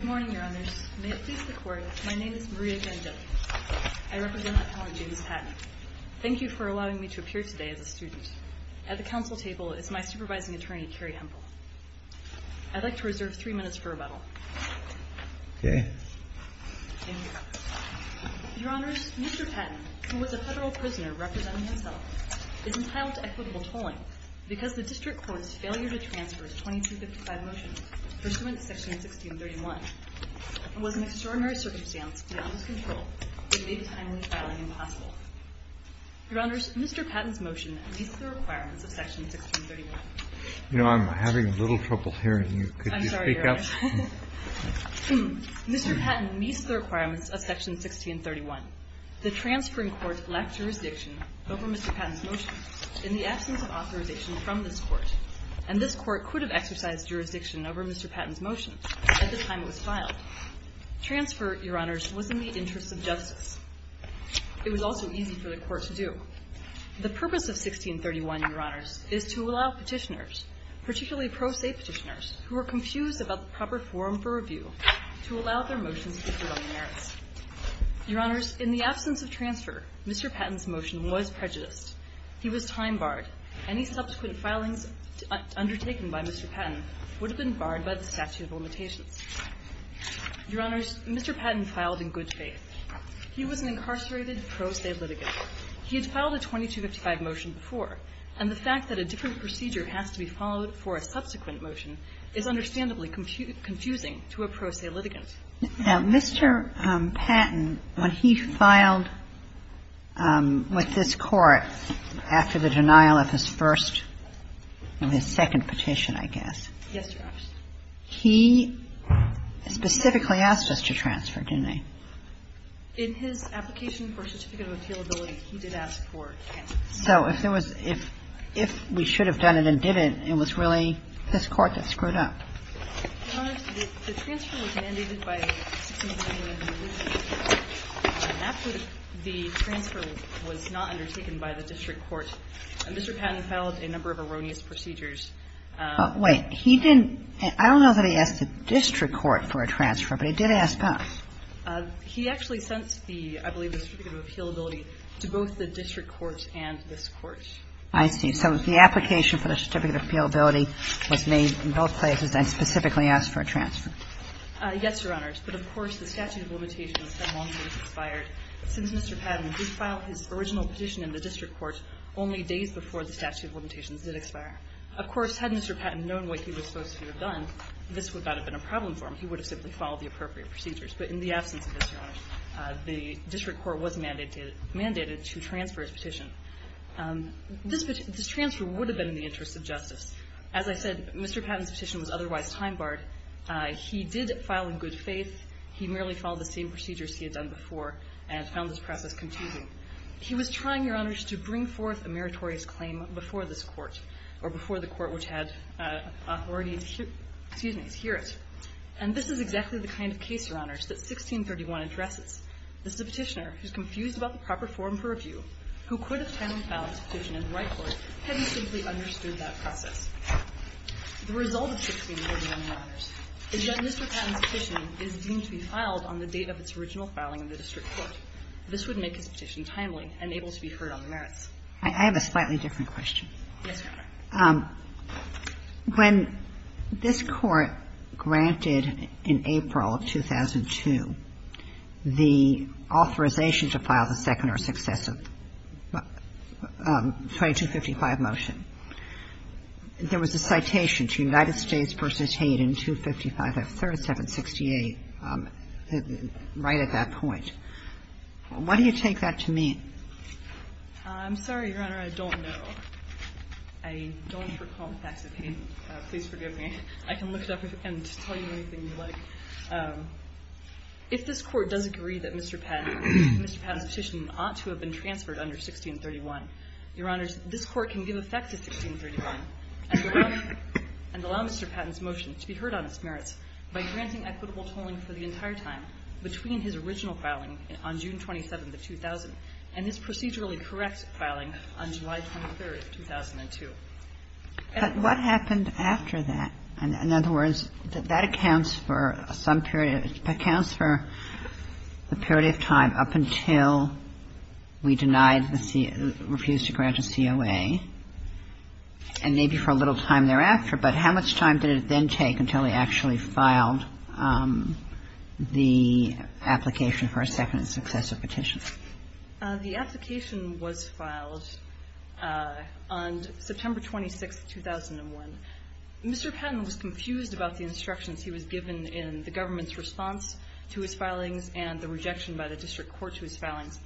Good morning, Your Honors. May it please the Court, my name is Maria Vangelis. I represent Appellant James Patton. Thank you for allowing me to appear today as a student. At the council table is my supervising attorney, Kerry Hempel. I'd like to reserve three minutes for rebuttal. Your Honors, Mr. Patton, who was a federal prisoner representing himself, is entitled to equitable tolling because the District Court's failure to transfer his 2255 motion pursuant to Section 1631 was an extraordinary circumstance without his control that made the timely filing impossible. Your Honors, Mr. Patton's motion meets the requirements of Section 1631. You know, I'm having a little trouble hearing you. Could you speak up? Mr. Patton meets the requirements of Section 1631. The transferring court lacked jurisdiction over Mr. Patton's motion in the absence of authorization from this Court, and this Court could have exercised jurisdiction over Mr. Patton's motion at the time it was filed. Transfer, Your Honors, was in the interest of justice. It was also easy for the Court to do. The purpose of 1631, Your Honors, is to allow petitioners, particularly pro se petitioners, who were confused about the proper form for review, to allow their motions to be proven merits. Your Honors, in the absence of transfer, Mr. Patton's motion was prejudiced. He was time barred. Any subsequent filings undertaken by Mr. Patton would have been barred by the statute of limitations. Your Honors, Mr. Patton filed in good faith. He was an incarcerated pro se litigant. He had filed a 2255 motion before, and the fact that a different procedure has to be followed for a subsequent motion is understandably confusing to a pro se litigant. Now, Mr. Patton, when he filed with this Court after the denial of his first or his second petition, I guess, he specifically asked us to transfer, didn't he? In his application for certificate of appealability, he did ask for transfer. So if there was – if we should have done it and didn't, it was really this Court that screwed up. Your Honors, the transfer was mandated by the 16th Amendment of the Revision of the Constitution. After the transfer was not undertaken by the district court, Mr. Patton filed a number of erroneous procedures. Wait. He didn't – I don't know that he asked the district court for a transfer, but he did ask us. He actually sent the – I believe the certificate of appealability to both the district court and this Court. I see. So the application for the certificate of appealability was made in both places and specifically asked for a transfer. Yes, Your Honors. But, of course, the statute of limitations had long since expired. Since Mr. Patton did file his original petition in the district court only days before the statute of limitations did expire. Of course, had Mr. Patton known what he was supposed to have done, this would not have been a problem for him. He would have simply followed the appropriate procedures. But in the absence of this, Your Honors, the district court was mandated to transfer his petition. This transfer would have been in the interest of justice. As I said, Mr. Patton's petition was otherwise time-barred. He did file in good faith. He merely followed the same procedures he had done before and found this process confusing. He was trying, Your Honors, to bring forth a meritorious claim before this Court or before the Court which had authority to hear – excuse me, to hear it. And this is exactly the kind of case, Your Honors, that 1631 addresses. This is a petitioner who's confused about the proper form for review, who could have timely filed his petition in the right court had he simply understood that process. The result of 1631, Your Honors, is that Mr. Patton's petition is deemed to be filed on the date of its original filing in the district court. This would make his petition timely and able to be heard on the merits. I have a slightly different question. Yes, Your Honor. When this Court granted in April of 2002 the authorization to file the second or successive 2255 motion, there was a citation to United States v. Hayden, 255 F. 3768, right at that point. Why do you take that to mean? I'm sorry, Your Honor, I don't know. I don't recall facts of Hayden. Please forgive me. I can look it up and tell you anything you like. If this Court does agree that Mr. Patton's petition ought to have been transferred under 1631, Your Honors, this Court can give effect to 1631 and allow Mr. Patton's motion to be heard on its merits by granting equitable tolling for the entire time between his original filing on June 27th of 2000 and his procedurally correct filing on July 23rd, 2002. But what happened after that? In other words, that accounts for some period of the period of time up until we deny the COA, refused to grant a COA, and maybe for a little time thereafter. But how much time did it then take until he actually filed the application for a second and successive petition? The application was filed on September 26th, 2001. Mr. Patton was confused about the instructions he was given in the government's response to his filings and the rejection by the district court to his filings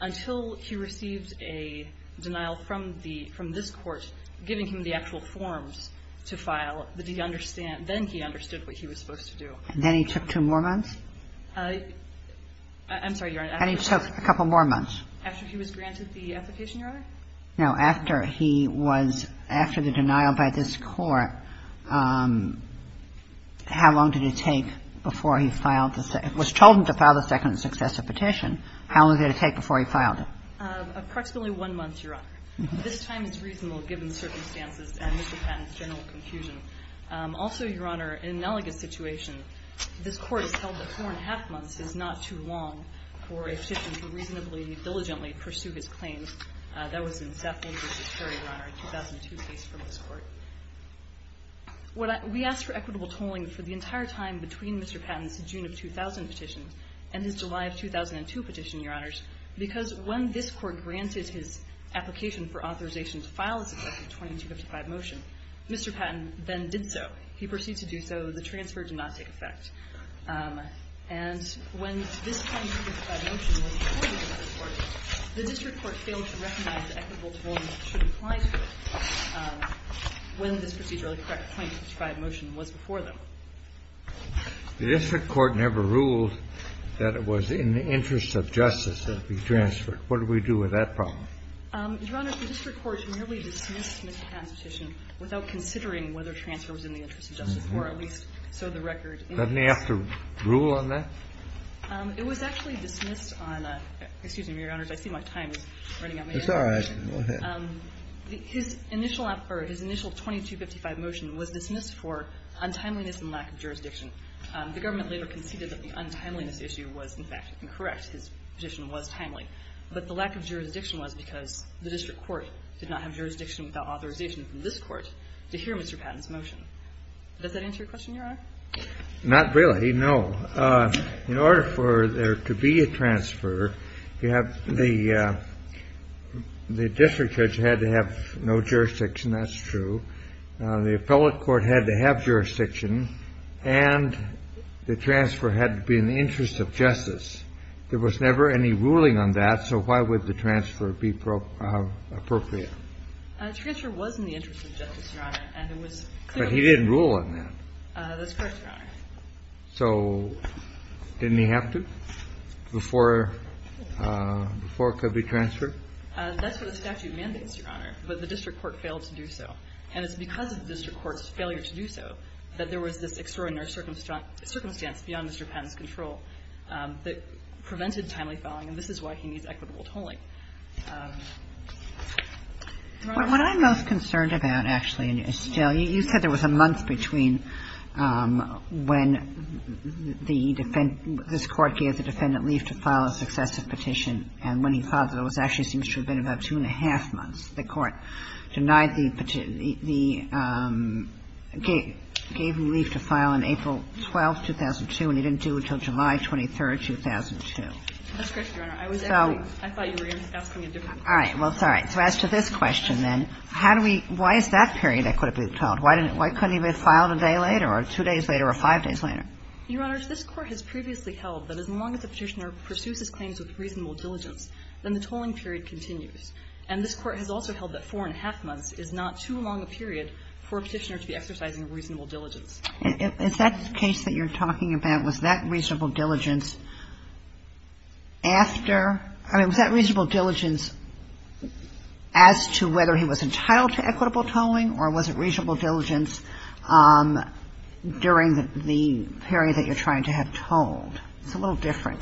until he received a denial from the – from this Court giving him the actual forms to file that he understand – then he understood what he was supposed to do. And then he took two more months? I'm sorry, Your Honor. And he took a couple more months? After he was granted the application, Your Honor? No, after he was – after the denial by this Court, how long did it take before he filed the – was told him to file the second and successive petition, how long did it take before he filed it? Approximately one month, Your Honor. This time is reasonable given the circumstances and Mr. Patton's general confusion. Also, Your Honor, in an elegant situation, this Court has held that four and a half months is not too long for a petition to reasonably and diligently pursue his claims. That was in Saffold v. Perry, Your Honor, a 2002 case from this Court. We asked for equitable tolling for the entire time between Mr. Patton's June of 2000 petition and his July of 2002 petition, Your Honors, because when this Court granted his application for authorization to file a successive 2255 motion, Mr. Patton then did so. He proceeded to do so. The transfer did not take effect. And when this 2255 motion was reported to the District Court, the District Court failed to recognize that equitable tolling should apply to it when this procedurally correct 2255 motion was before them. The District Court never ruled that it was in the interest of justice that it be transferred. What do we do with that problem? Your Honor, the District Court merely dismissed Mr. Patton's petition without considering whether transfer was in the interest of justice, or at least so the record indicates. Doesn't he have to rule on that? It was actually dismissed on a – excuse me, Your Honors, I see my time is running out. It's all right. Go ahead. His initial 2255 motion was dismissed for untimeliness and lack of jurisdiction. The government later conceded that the untimeliness issue was, in fact, incorrect. His petition was timely. But the lack of jurisdiction was because the District Court did not have jurisdiction without authorization from this Court to hear Mr. Patton's motion. Does that answer your question, Your Honor? Not really, no. In order for there to be a transfer, you have the – the District Judge had to have no jurisdiction, that's true. The appellate court had to have jurisdiction, and the transfer had to be in the interest of justice. There was never any ruling on that, so why would the transfer be appropriate? The transfer was in the interest of justice, Your Honor, and it was clearly – But he didn't rule on that. That's correct, Your Honor. So didn't he have to before – before it could be transferred? That's what the statute mandates, Your Honor. But the District Court failed to do so. And it's because of the District Court's failure to do so that there was this extraordinary circumstance beyond Mr. Patton's control that prevented timely filing, and this is why he needs equitable tolling. What I'm most concerned about, actually, is still – you said there was a month between when the – this Court gave the defendant leave to file a successive petition and when he filed it. It actually seems to have been about two and a half months. The Court denied the – gave him leave to file on April 12th, 2002, and he didn't do it until July 23rd, 2002. That's correct, Your Honor. I was actually – I thought you were asking a different question. All right. Well, it's all right. So as to this question, then, how do we – why is that period equitably tolled? Why couldn't he have filed a day later or two days later or five days later? Your Honors, this Court has previously held that as long as the Petitioner pursues his claims with reasonable diligence, then the tolling period continues. And this Court has also held that four and a half months is not too long a period for a Petitioner to be exercising reasonable diligence. Is that case that you're talking about, was that reasonable diligence after – I mean, was that reasonable diligence as to whether he was entitled to equitable tolling or was it reasonable diligence during the period that you're trying to have tolled? It's a little different.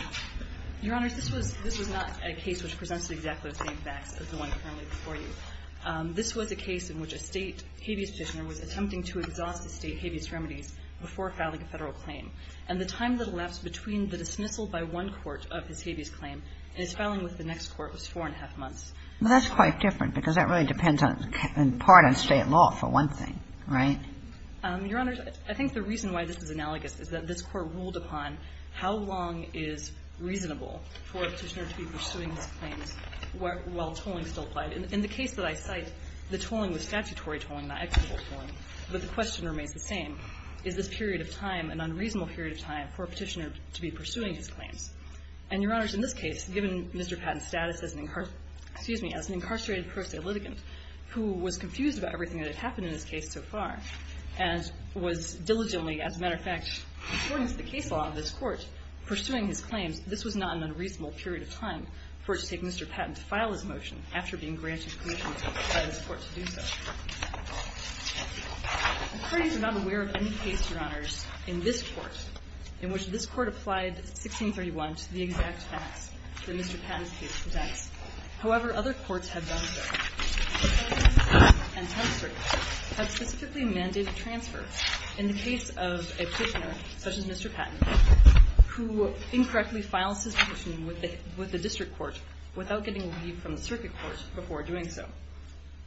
Your Honors, this was – this was not a case which presents exactly the same facts as the one currently before you. This was a case in which a State habeas Petitioner was attempting to exhaust the State habeas remedies before filing a Federal claim. And the time that elapsed between the dismissal by one court of his habeas claim and his filing with the next court was four and a half months. Well, that's quite different, because that really depends on – in part on State law, for one thing, right? Your Honors, I think the reason why this is analogous is that this Court ruled upon how long is reasonable for a Petitioner to be pursuing his claims while tolling still applied. In the case that I cite, the tolling was statutory tolling, not equitable tolling. But the question remains the same. Is this period of time an unreasonable period of time for a Petitioner to be pursuing his claims? And, Your Honors, in this case, given Mr. Patton's status as an – excuse me – as an incarcerated pro se litigant who was confused about everything that had happened in this case so far and was diligently, as a matter of fact, according to the case law of this Court, pursuing his claims, this was not an unreasonable period of time for it to take Mr. Patton to file his motion after being granted permission by this Court to do so. The parties are not aware of any case, Your Honors, in this Court in which this Court applied 1631 to the exact facts that Mr. Patton's case presents. However, other Courts have done so. The Federalist Court and Tenth Circuit have specifically mandated transfer in the case of a Petitioner, such as Mr. Patton, who incorrectly files his petition with the District Court without getting leave from the Circuit Court before doing so.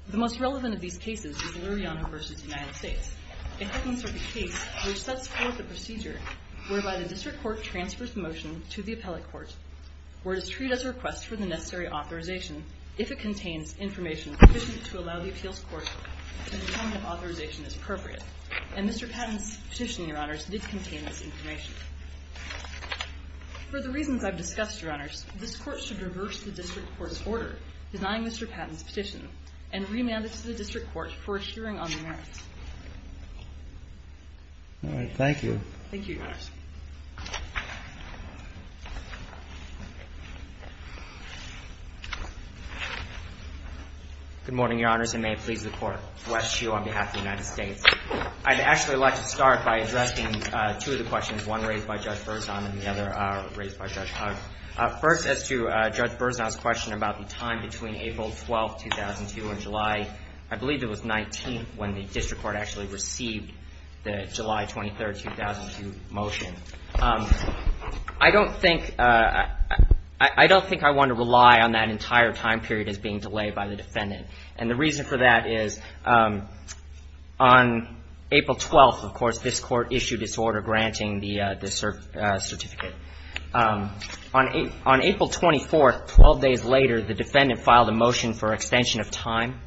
The most relevant of these cases is Luriano v. United States, a Second Circuit case which sets forth a procedure whereby the District Court transfers the motion to the Appellate Court where it is treated as a request for the necessary authorization if it contains information sufficient to allow the Appeals Court to determine if authorization is appropriate. And Mr. Patton's petition, Your Honors, did contain this information. For the reasons I've discussed, Your Honors, this Court should reverse the District Court's order denying Mr. Patton's petition and remand it to the District Court for a hearing on the merits. All right. Thank you. Thank you, Your Honors. Good morning, Your Honors, and may it please the Court to request you on behalf of the United States. I'd actually like to start by addressing two of the questions, one raised by Judge Berzon and the other raised by Judge Hunt. First, as to Judge Berzon's question about the time between April 12, 2002 and July, I believe it was 19, when the District Court actually received the July 23, 2002 motion, I don't think I want to rely on that entire time period as being delayed by the defendant. And the reason for that is on April 12, of course, this Court issued its order granting the certificate. On April 24, 12 days later, the defendant filed a motion for extension of time.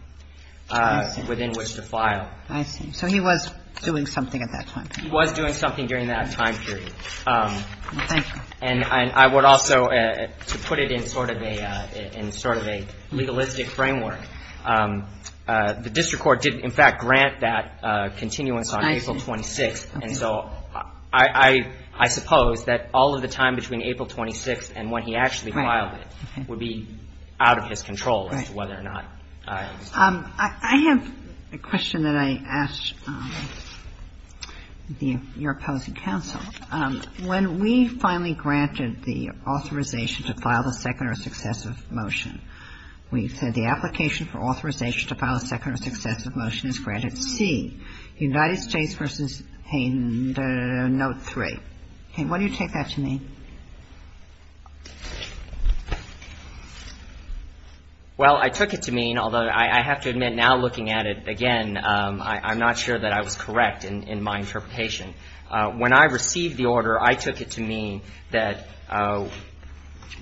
Within which to file. I see. So he was doing something at that time. He was doing something during that time period. Thank you. And I would also, to put it in sort of a legalistic framework, the District Court did, in fact, grant that continuance on April 26. And so I suppose that all of the time between April 26 and when he actually filed it would be out of his control as to whether or not. I have a question that I asked your opposing counsel. When we finally granted the authorization to file the second or successive motion, we said the application for authorization to file a second or successive motion is granted C, United States v. Hayden, note three. Hayden, why do you take that to mean? Well, I took it to mean, although I have to admit now looking at it again, I'm not sure that I was correct in my interpretation. When I received the order, I took it to mean that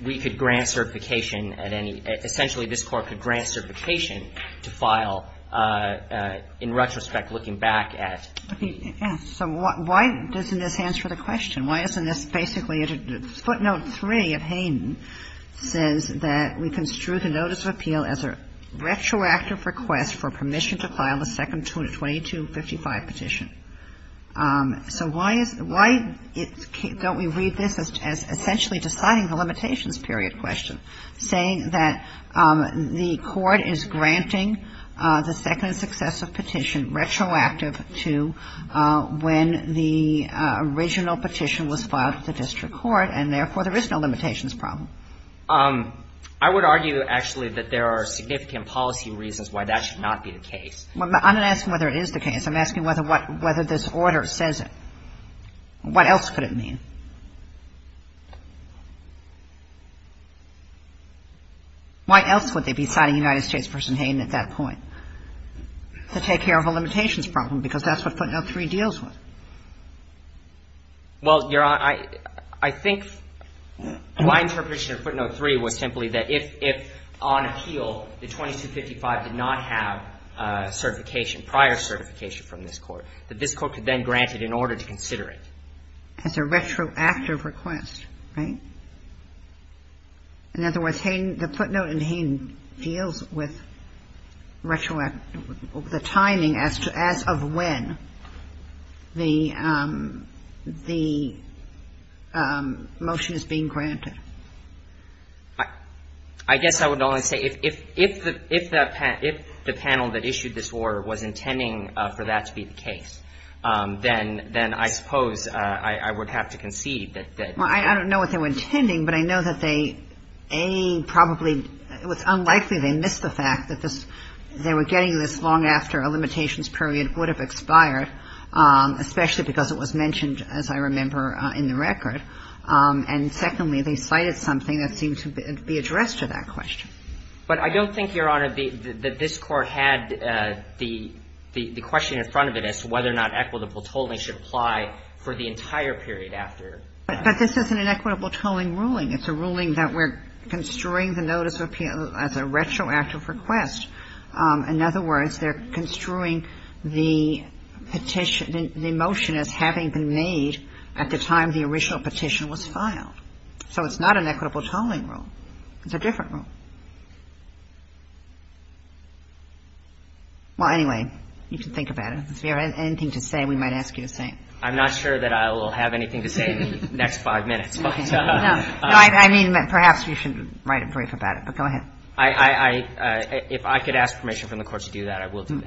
we could grant certification at any – essentially this Court could grant certification to file in retrospect looking back at. So why doesn't this answer the question? Why isn't this basically a deduction? Footnote three of Hayden says that we construe the notice of appeal as a retroactive request for permission to file the second 2255 petition. So why is – why don't we read this as essentially deciding the limitations period question, saying that the Court is granting the second successive petition retroactive to when the original petition was filed at the district court and therefore there is no limitations problem? I would argue actually that there are significant policy reasons why that should not be the case. I'm not asking whether it is the case. I'm asking whether this order says it. What else could it mean? Why else would they be citing United States v. Hayden at that point? To take care of a limitations problem, because that's what footnote three deals with. Well, Your Honor, I think my interpretation of footnote three was simply that if on appeal the 2255 did not have certification, prior certification from this Court, that this Court could then grant it in order to consider it. As a retroactive request, right? In other words, Hayden – the footnote in Hayden deals with retroactive – the timing as to – as of when the motion is being granted. I guess I would only say if the panel that issued this order was intending for that to be the case, then I suppose I would have to concede that – I don't know what they were intending, but I know that they, A, probably – it was unlikely they missed the fact that they were getting this long after a limitations period would have expired, especially because it was mentioned, as I remember, in the record. And secondly, they cited something that seemed to be addressed to that question. But I don't think, Your Honor, that this Court had the question in front of it as to whether or not equitable tolling should apply for the entire period after. But this isn't an equitable tolling ruling. It's a ruling that we're construing the notice of appeal as a retroactive request. In other words, they're construing the petition – the motion as having been made at the time the original petition was filed. So it's not an equitable tolling rule. It's a different rule. Well, anyway, you can think about it. If you have anything to say, we might ask you to say it. I'm not sure that I will have anything to say in the next five minutes. No, I mean, perhaps you should write a brief about it. But go ahead. I – if I could ask permission from the Court to do that, I will do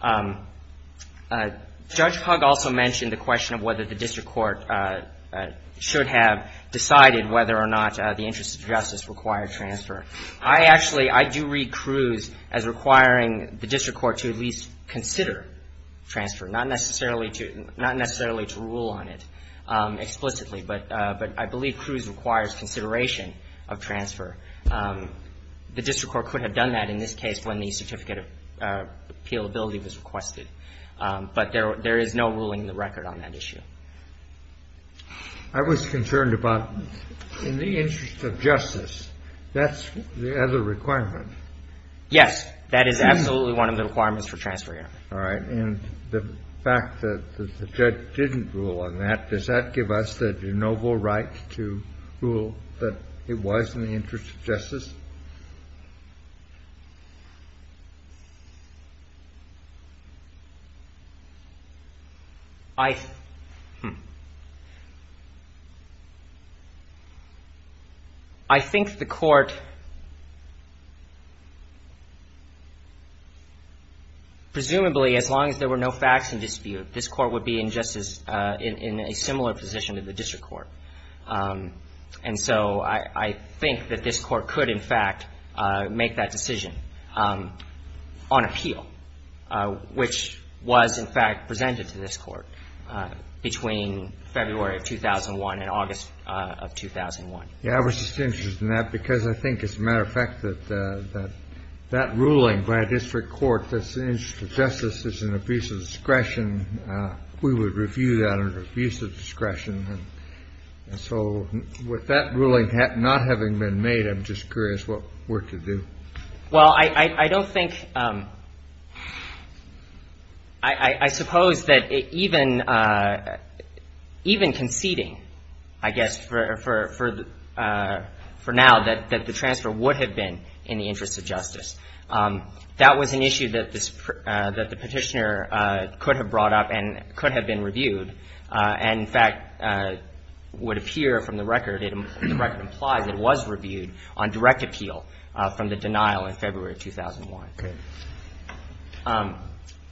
that. Judge Pug also mentioned the question of whether the district court should have decided whether or not the interest of justice required transfer. I actually – I do read Cruz as requiring the district court to at least consider transfer, not necessarily to – not necessarily to rule on it explicitly. But I believe Cruz requires consideration of transfer. The district court could have done that in this case when the certificate of appealability was requested. But there is no ruling in the record on that issue. I was concerned about in the interest of justice, that's the other requirement. Yes. That is absolutely one of the requirements for transfer here. All right. And the fact that the judge didn't rule on that, does that give us the de novo right to rule that it was in the interest of justice? I – I think the Court – presumably, as long as there were no facts in dispute, this Court would be in justice – in a similar position to the district court. And so I think that this Court could, in fact, make that decision on appeal, which was, in fact, presented to this Court between February of 2001 and August of 2001. Yeah, I was just interested in that because I think, as a matter of fact, that ruling by a district court that's in the interest of justice is an abuse of discretion. We would review that as an abuse of discretion. So with that ruling not having been made, I'm just curious what we're to do. Well, I don't think – I suppose that even conceding, I guess, for now, that the transfer would have been in the interest of justice. That was an issue that the Petitioner could have brought up and could have been reviewed and, in fact, would appear from the record – the record implies it was reviewed on direct appeal from the denial in February of 2001. Okay.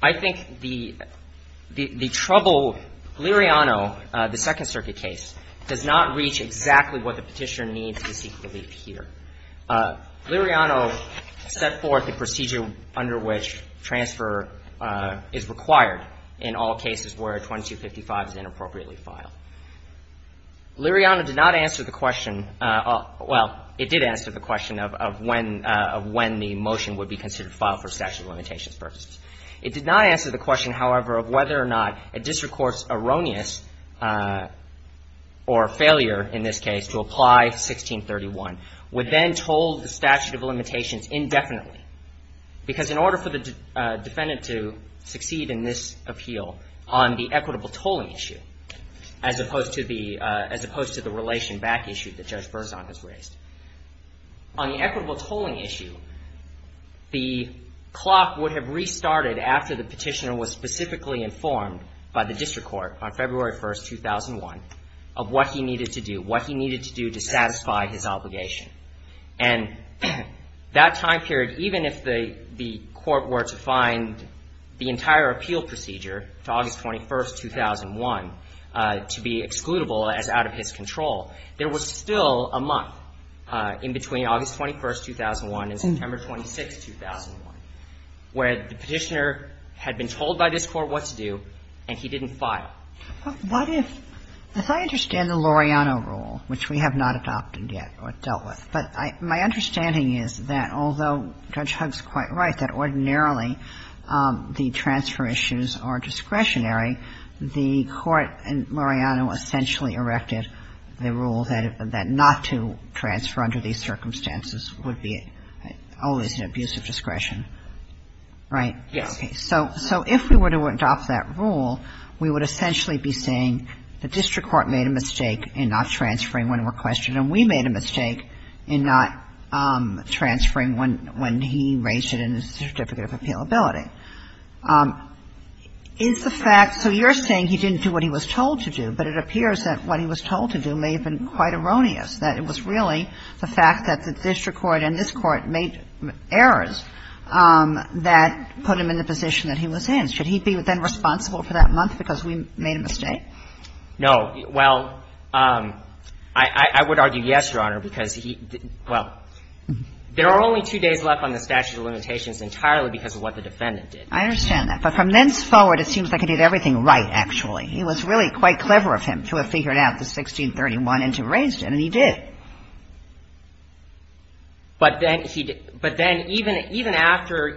I think the trouble – Liriano, the Second Circuit case, does not reach exactly what the Petitioner needs to seek relief here. Liriano set forth the procedure under which transfer is required in all cases where 2255 is inappropriately filed. Liriano did not answer the question – well, it did answer the question of when the motion would be considered filed for statute of limitations purposes. It did not answer the question, however, of whether or not a district court's erroneous or failure, in this case, to apply 1631 would then toll the statute of limitations indefinitely. Because in order for the defendant to succeed in this appeal on the equitable tolling issue, as opposed to the – as opposed to the relation back issue that Judge Berzon has raised. On the equitable tolling issue, the clock would have restarted after the Petitioner was specifically informed by the district court on February 1st, 2001, of what he needed to do. What he needed to do to satisfy his obligation. And that time period, even if the court were to find the entire appeal procedure to August 21st, 2001, to be excludable as out of his control, there was still a month in between August 21st, 2001 and September 26th, 2001, where the Petitioner had been told by this court what to do and he didn't file. But what if – if I understand the Liriano rule, which we have not adopted yet or dealt with, but my understanding is that although Judge Huggs is quite right that ordinarily the transfer issues are discretionary, the court in Liriano essentially erected the rule that not to transfer under these circumstances would be always an abuse of discretion, right? Yes. Okay. So if we were to adopt that rule, we would essentially be saying the district court made a mistake in not transferring when requested, and we made a mistake in not transferring when he raised it in his certificate of appealability. Is the fact – so you're saying he didn't do what he was told to do, but it appears that what he was told to do may have been quite erroneous, that it was really the fact that the district court and this court made errors that put him in the position that he was in. Should he be then responsible for that month because we made a mistake? Well, I would argue yes, Your Honor, because he – well, there are only two days left on the statute of limitations entirely because of what the defendant did. I understand that. But from thenceforward, it seems like he did everything right, actually. It was really quite clever of him to have figured out the 1631 and to have raised it, and he did. But then even after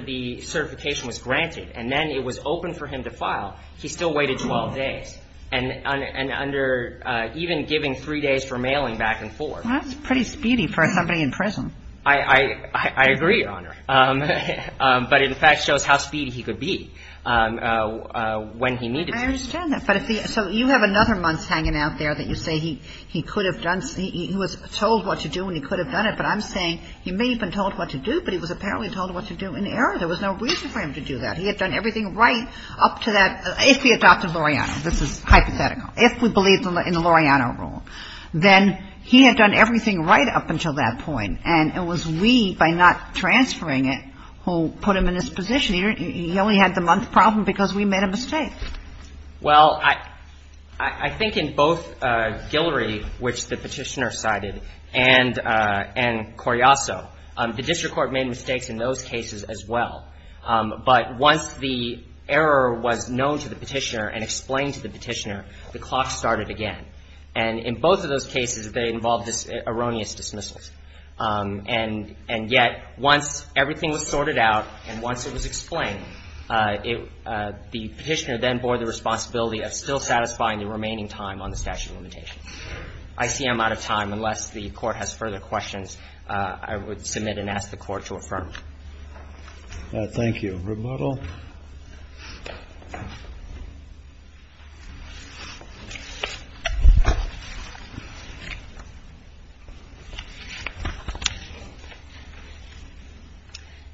the certification was granted and then it was open for him to file, he still waited 12 days, and under – even giving three days for mailing back and forth. That's pretty speedy for somebody in prison. I agree, Your Honor. But it, in fact, shows how speedy he could be when he needed to. I understand that. But if the – so you have another month hanging out there that you say he could have done – he was told what to do and he could have done it, but I'm saying he may have been told what to do, but he was apparently told what to do in error. There was no reason for him to do that. He had done everything right up to that – if he adopted Loreano. This is hypothetical. If we believe in the Loreano rule, then he had done everything right up until that point, and it was we, by not transferring it, who put him in this position. He only had the month problem because we made a mistake. Well, I think in both Guillory, which the Petitioner cited, and Coriasso, the District Court made mistakes in those cases as well. But once the error was known to the Petitioner and explained to the Petitioner, the clock started again. And in both of those cases, they involved erroneous dismissals. And yet, once everything was sorted out and once it was explained, the Petitioner then bore the responsibility of still satisfying the remaining time on the statute of limitation. I see I'm out of time. Unless the Court has further questions, I would submit and ask the Court to affirm. Thank you. Rebuttal.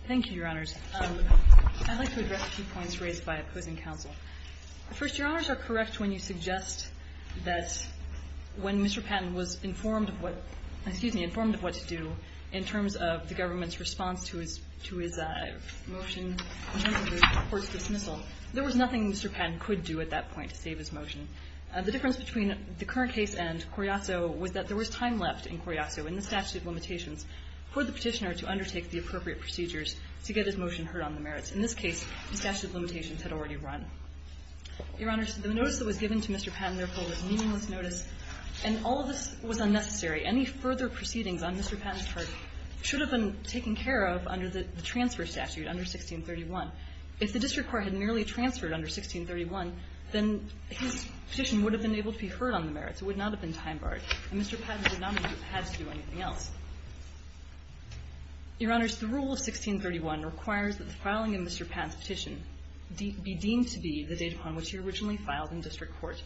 Thank you, Your Honors. I'd like to address a few points raised by opposing counsel. First, Your Honors are correct when you suggest that when Mr. Patton was informed of what – excuse me, informed of what to do in terms of the government's response to his motion in terms of the Court's dismissal, there was nothing Mr. Patton could do at that point to save his motion. The difference between the current case and Coriasso was that there was time left in Coriasso in the statute of limitations for the Petitioner to undertake the appropriate procedures to get his motion heard on the merits. In this case, the statute of limitations had already run. Your Honors, the notice that was given to Mr. Patton, therefore, was a meaningless notice, and all of this was unnecessary. Any further proceedings on Mr. Patton's part should have been taken care of under the transfer statute under 1631. If the district court had merely transferred under 1631, then his petition would have been able to be heard on the merits. It would not have been time-barred, and Mr. Patton would not have had to do anything else. Your Honors, the rule of 1631 requires that the filing of Mr. Patton's petition be deemed to be the date upon which he originally filed in district court.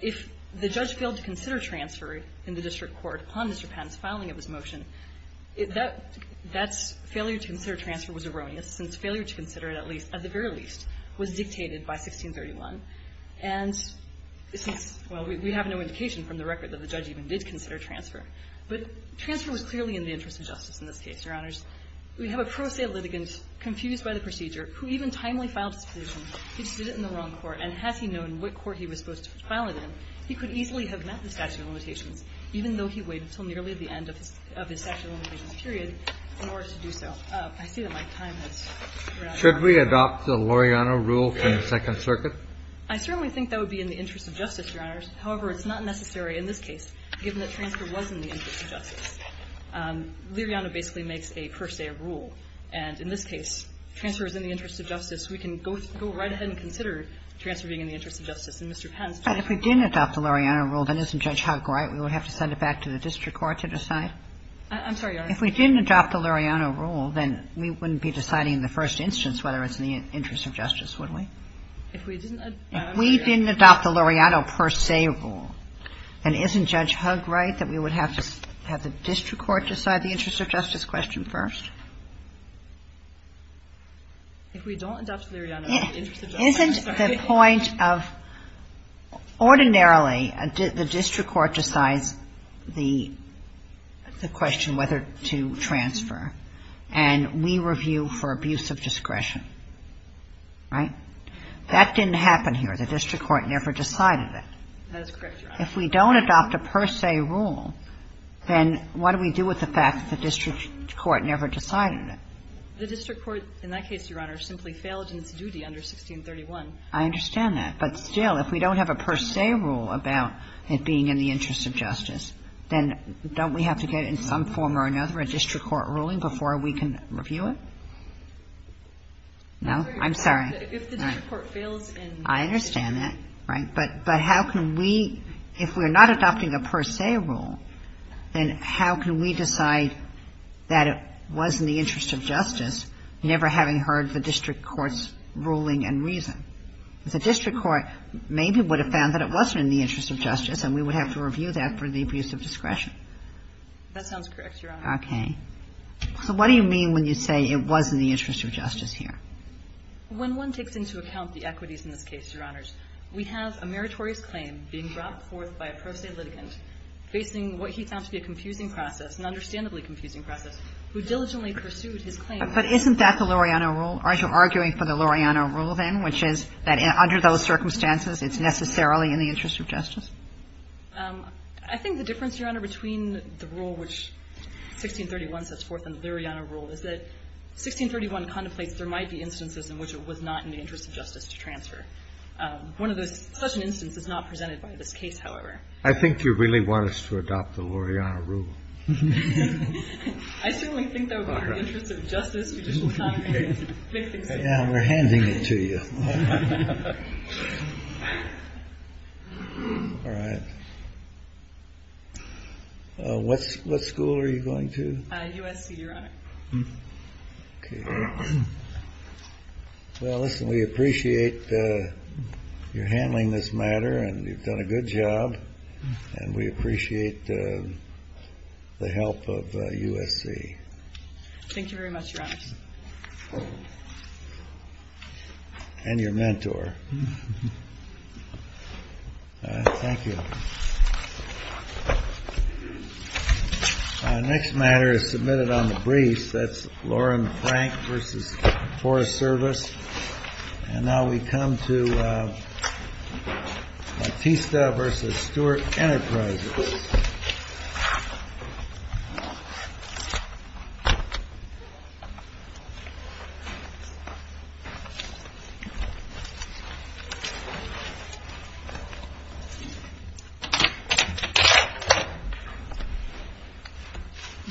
If the judge failed to consider transfer in the district court upon Mr. Patton's filing of his motion, that's — failure to consider transfer was erroneous, since failure to consider it at least — at the very least was dictated by 1631. And since — well, we have no indication from the record that the judge even did consider transfer, but transfer was clearly in the interest of justice in this case, Your Honors. We have a pro se litigant confused by the procedure who even timely filed his petition. He just did it in the wrong court. And had he known what court he was supposed to file it in, he could easily have met the statute of limitations, even though he waited until nearly the end of his — of his statute of limitations period in order to do so. I see that my time has run out. Should we adopt the Liriano rule from the Second Circuit? I certainly think that would be in the interest of justice, Your Honors. However, it's not necessary in this case, given that transfer was in the interest of justice. Liriano basically makes a per se rule. And in this case, transfer is in the interest of justice. We can go — go right ahead and consider transfer being in the interest of justice. And Mr. Pence — But if we didn't adopt the Liriano rule, then isn't Judge Hugg right? We would have to send it back to the district court to decide? I'm sorry, Your Honors. If we didn't adopt the Liriano rule, then we wouldn't be deciding in the first instance whether it's in the interest of justice, would we? If we didn't — If we didn't adopt the Liriano per se rule, then isn't Judge Hugg right that we would have to have the district court decide the interest of justice question first? If we don't adopt the Liriano — Isn't the point of — ordinarily, the district court decides the question whether to transfer, and we review for abuse of discretion, right? That didn't happen here. The district court never decided it. That is correct, Your Honors. If we don't adopt a per se rule, then what do we do with the fact that the district court never decided it? The district court, in that case, Your Honor, simply failed in its duty under 1631. I understand that. But still, if we don't have a per se rule about it being in the interest of justice, then don't we have to get in some form or another a district court ruling before we can review it? No? I'm sorry. If the district court fails in — I understand that, right? But how can we — if we're not adopting a per se rule, then how can we decide that it was in the interest of justice, never having heard the district court's ruling and reason? The district court maybe would have found that it wasn't in the interest of justice, and we would have to review that for the abuse of discretion. That sounds correct, Your Honor. Okay. So what do you mean when you say it was in the interest of justice here? When one takes into account the equities in this case, Your Honors, we have a meritorious claim being brought forth by a pro se litigant facing what he found to be a confusing process, an understandably confusing process, who diligently pursued his claim. But isn't that the Luriano rule? Aren't you arguing for the Luriano rule, then, which is that under those circumstances it's necessarily in the interest of justice? I think the difference, Your Honor, between the rule which 1631 sets forth and the Luriano rule is that 1631 contemplates there might be instances in which it was not in the interest of justice to transfer. One of those — such an instance is not presented by this case, however. I think you really want us to adopt the Luriano rule. I certainly think that in the interest of justice, judicial commentary is a big thing to do. Yeah, we're handing it to you. All right. What school are you going to? USC, Your Honor. Okay. Well, listen, we appreciate your handling this matter, and you've done a good job, and we appreciate the help of USC. Thank you very much, Your Honor. And your mentor. Thank you. Our next matter is submitted on the briefs. That's Lauren Frank v. Forest Service. And now we come to Batista v. Stewart Enterprises.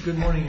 Good morning.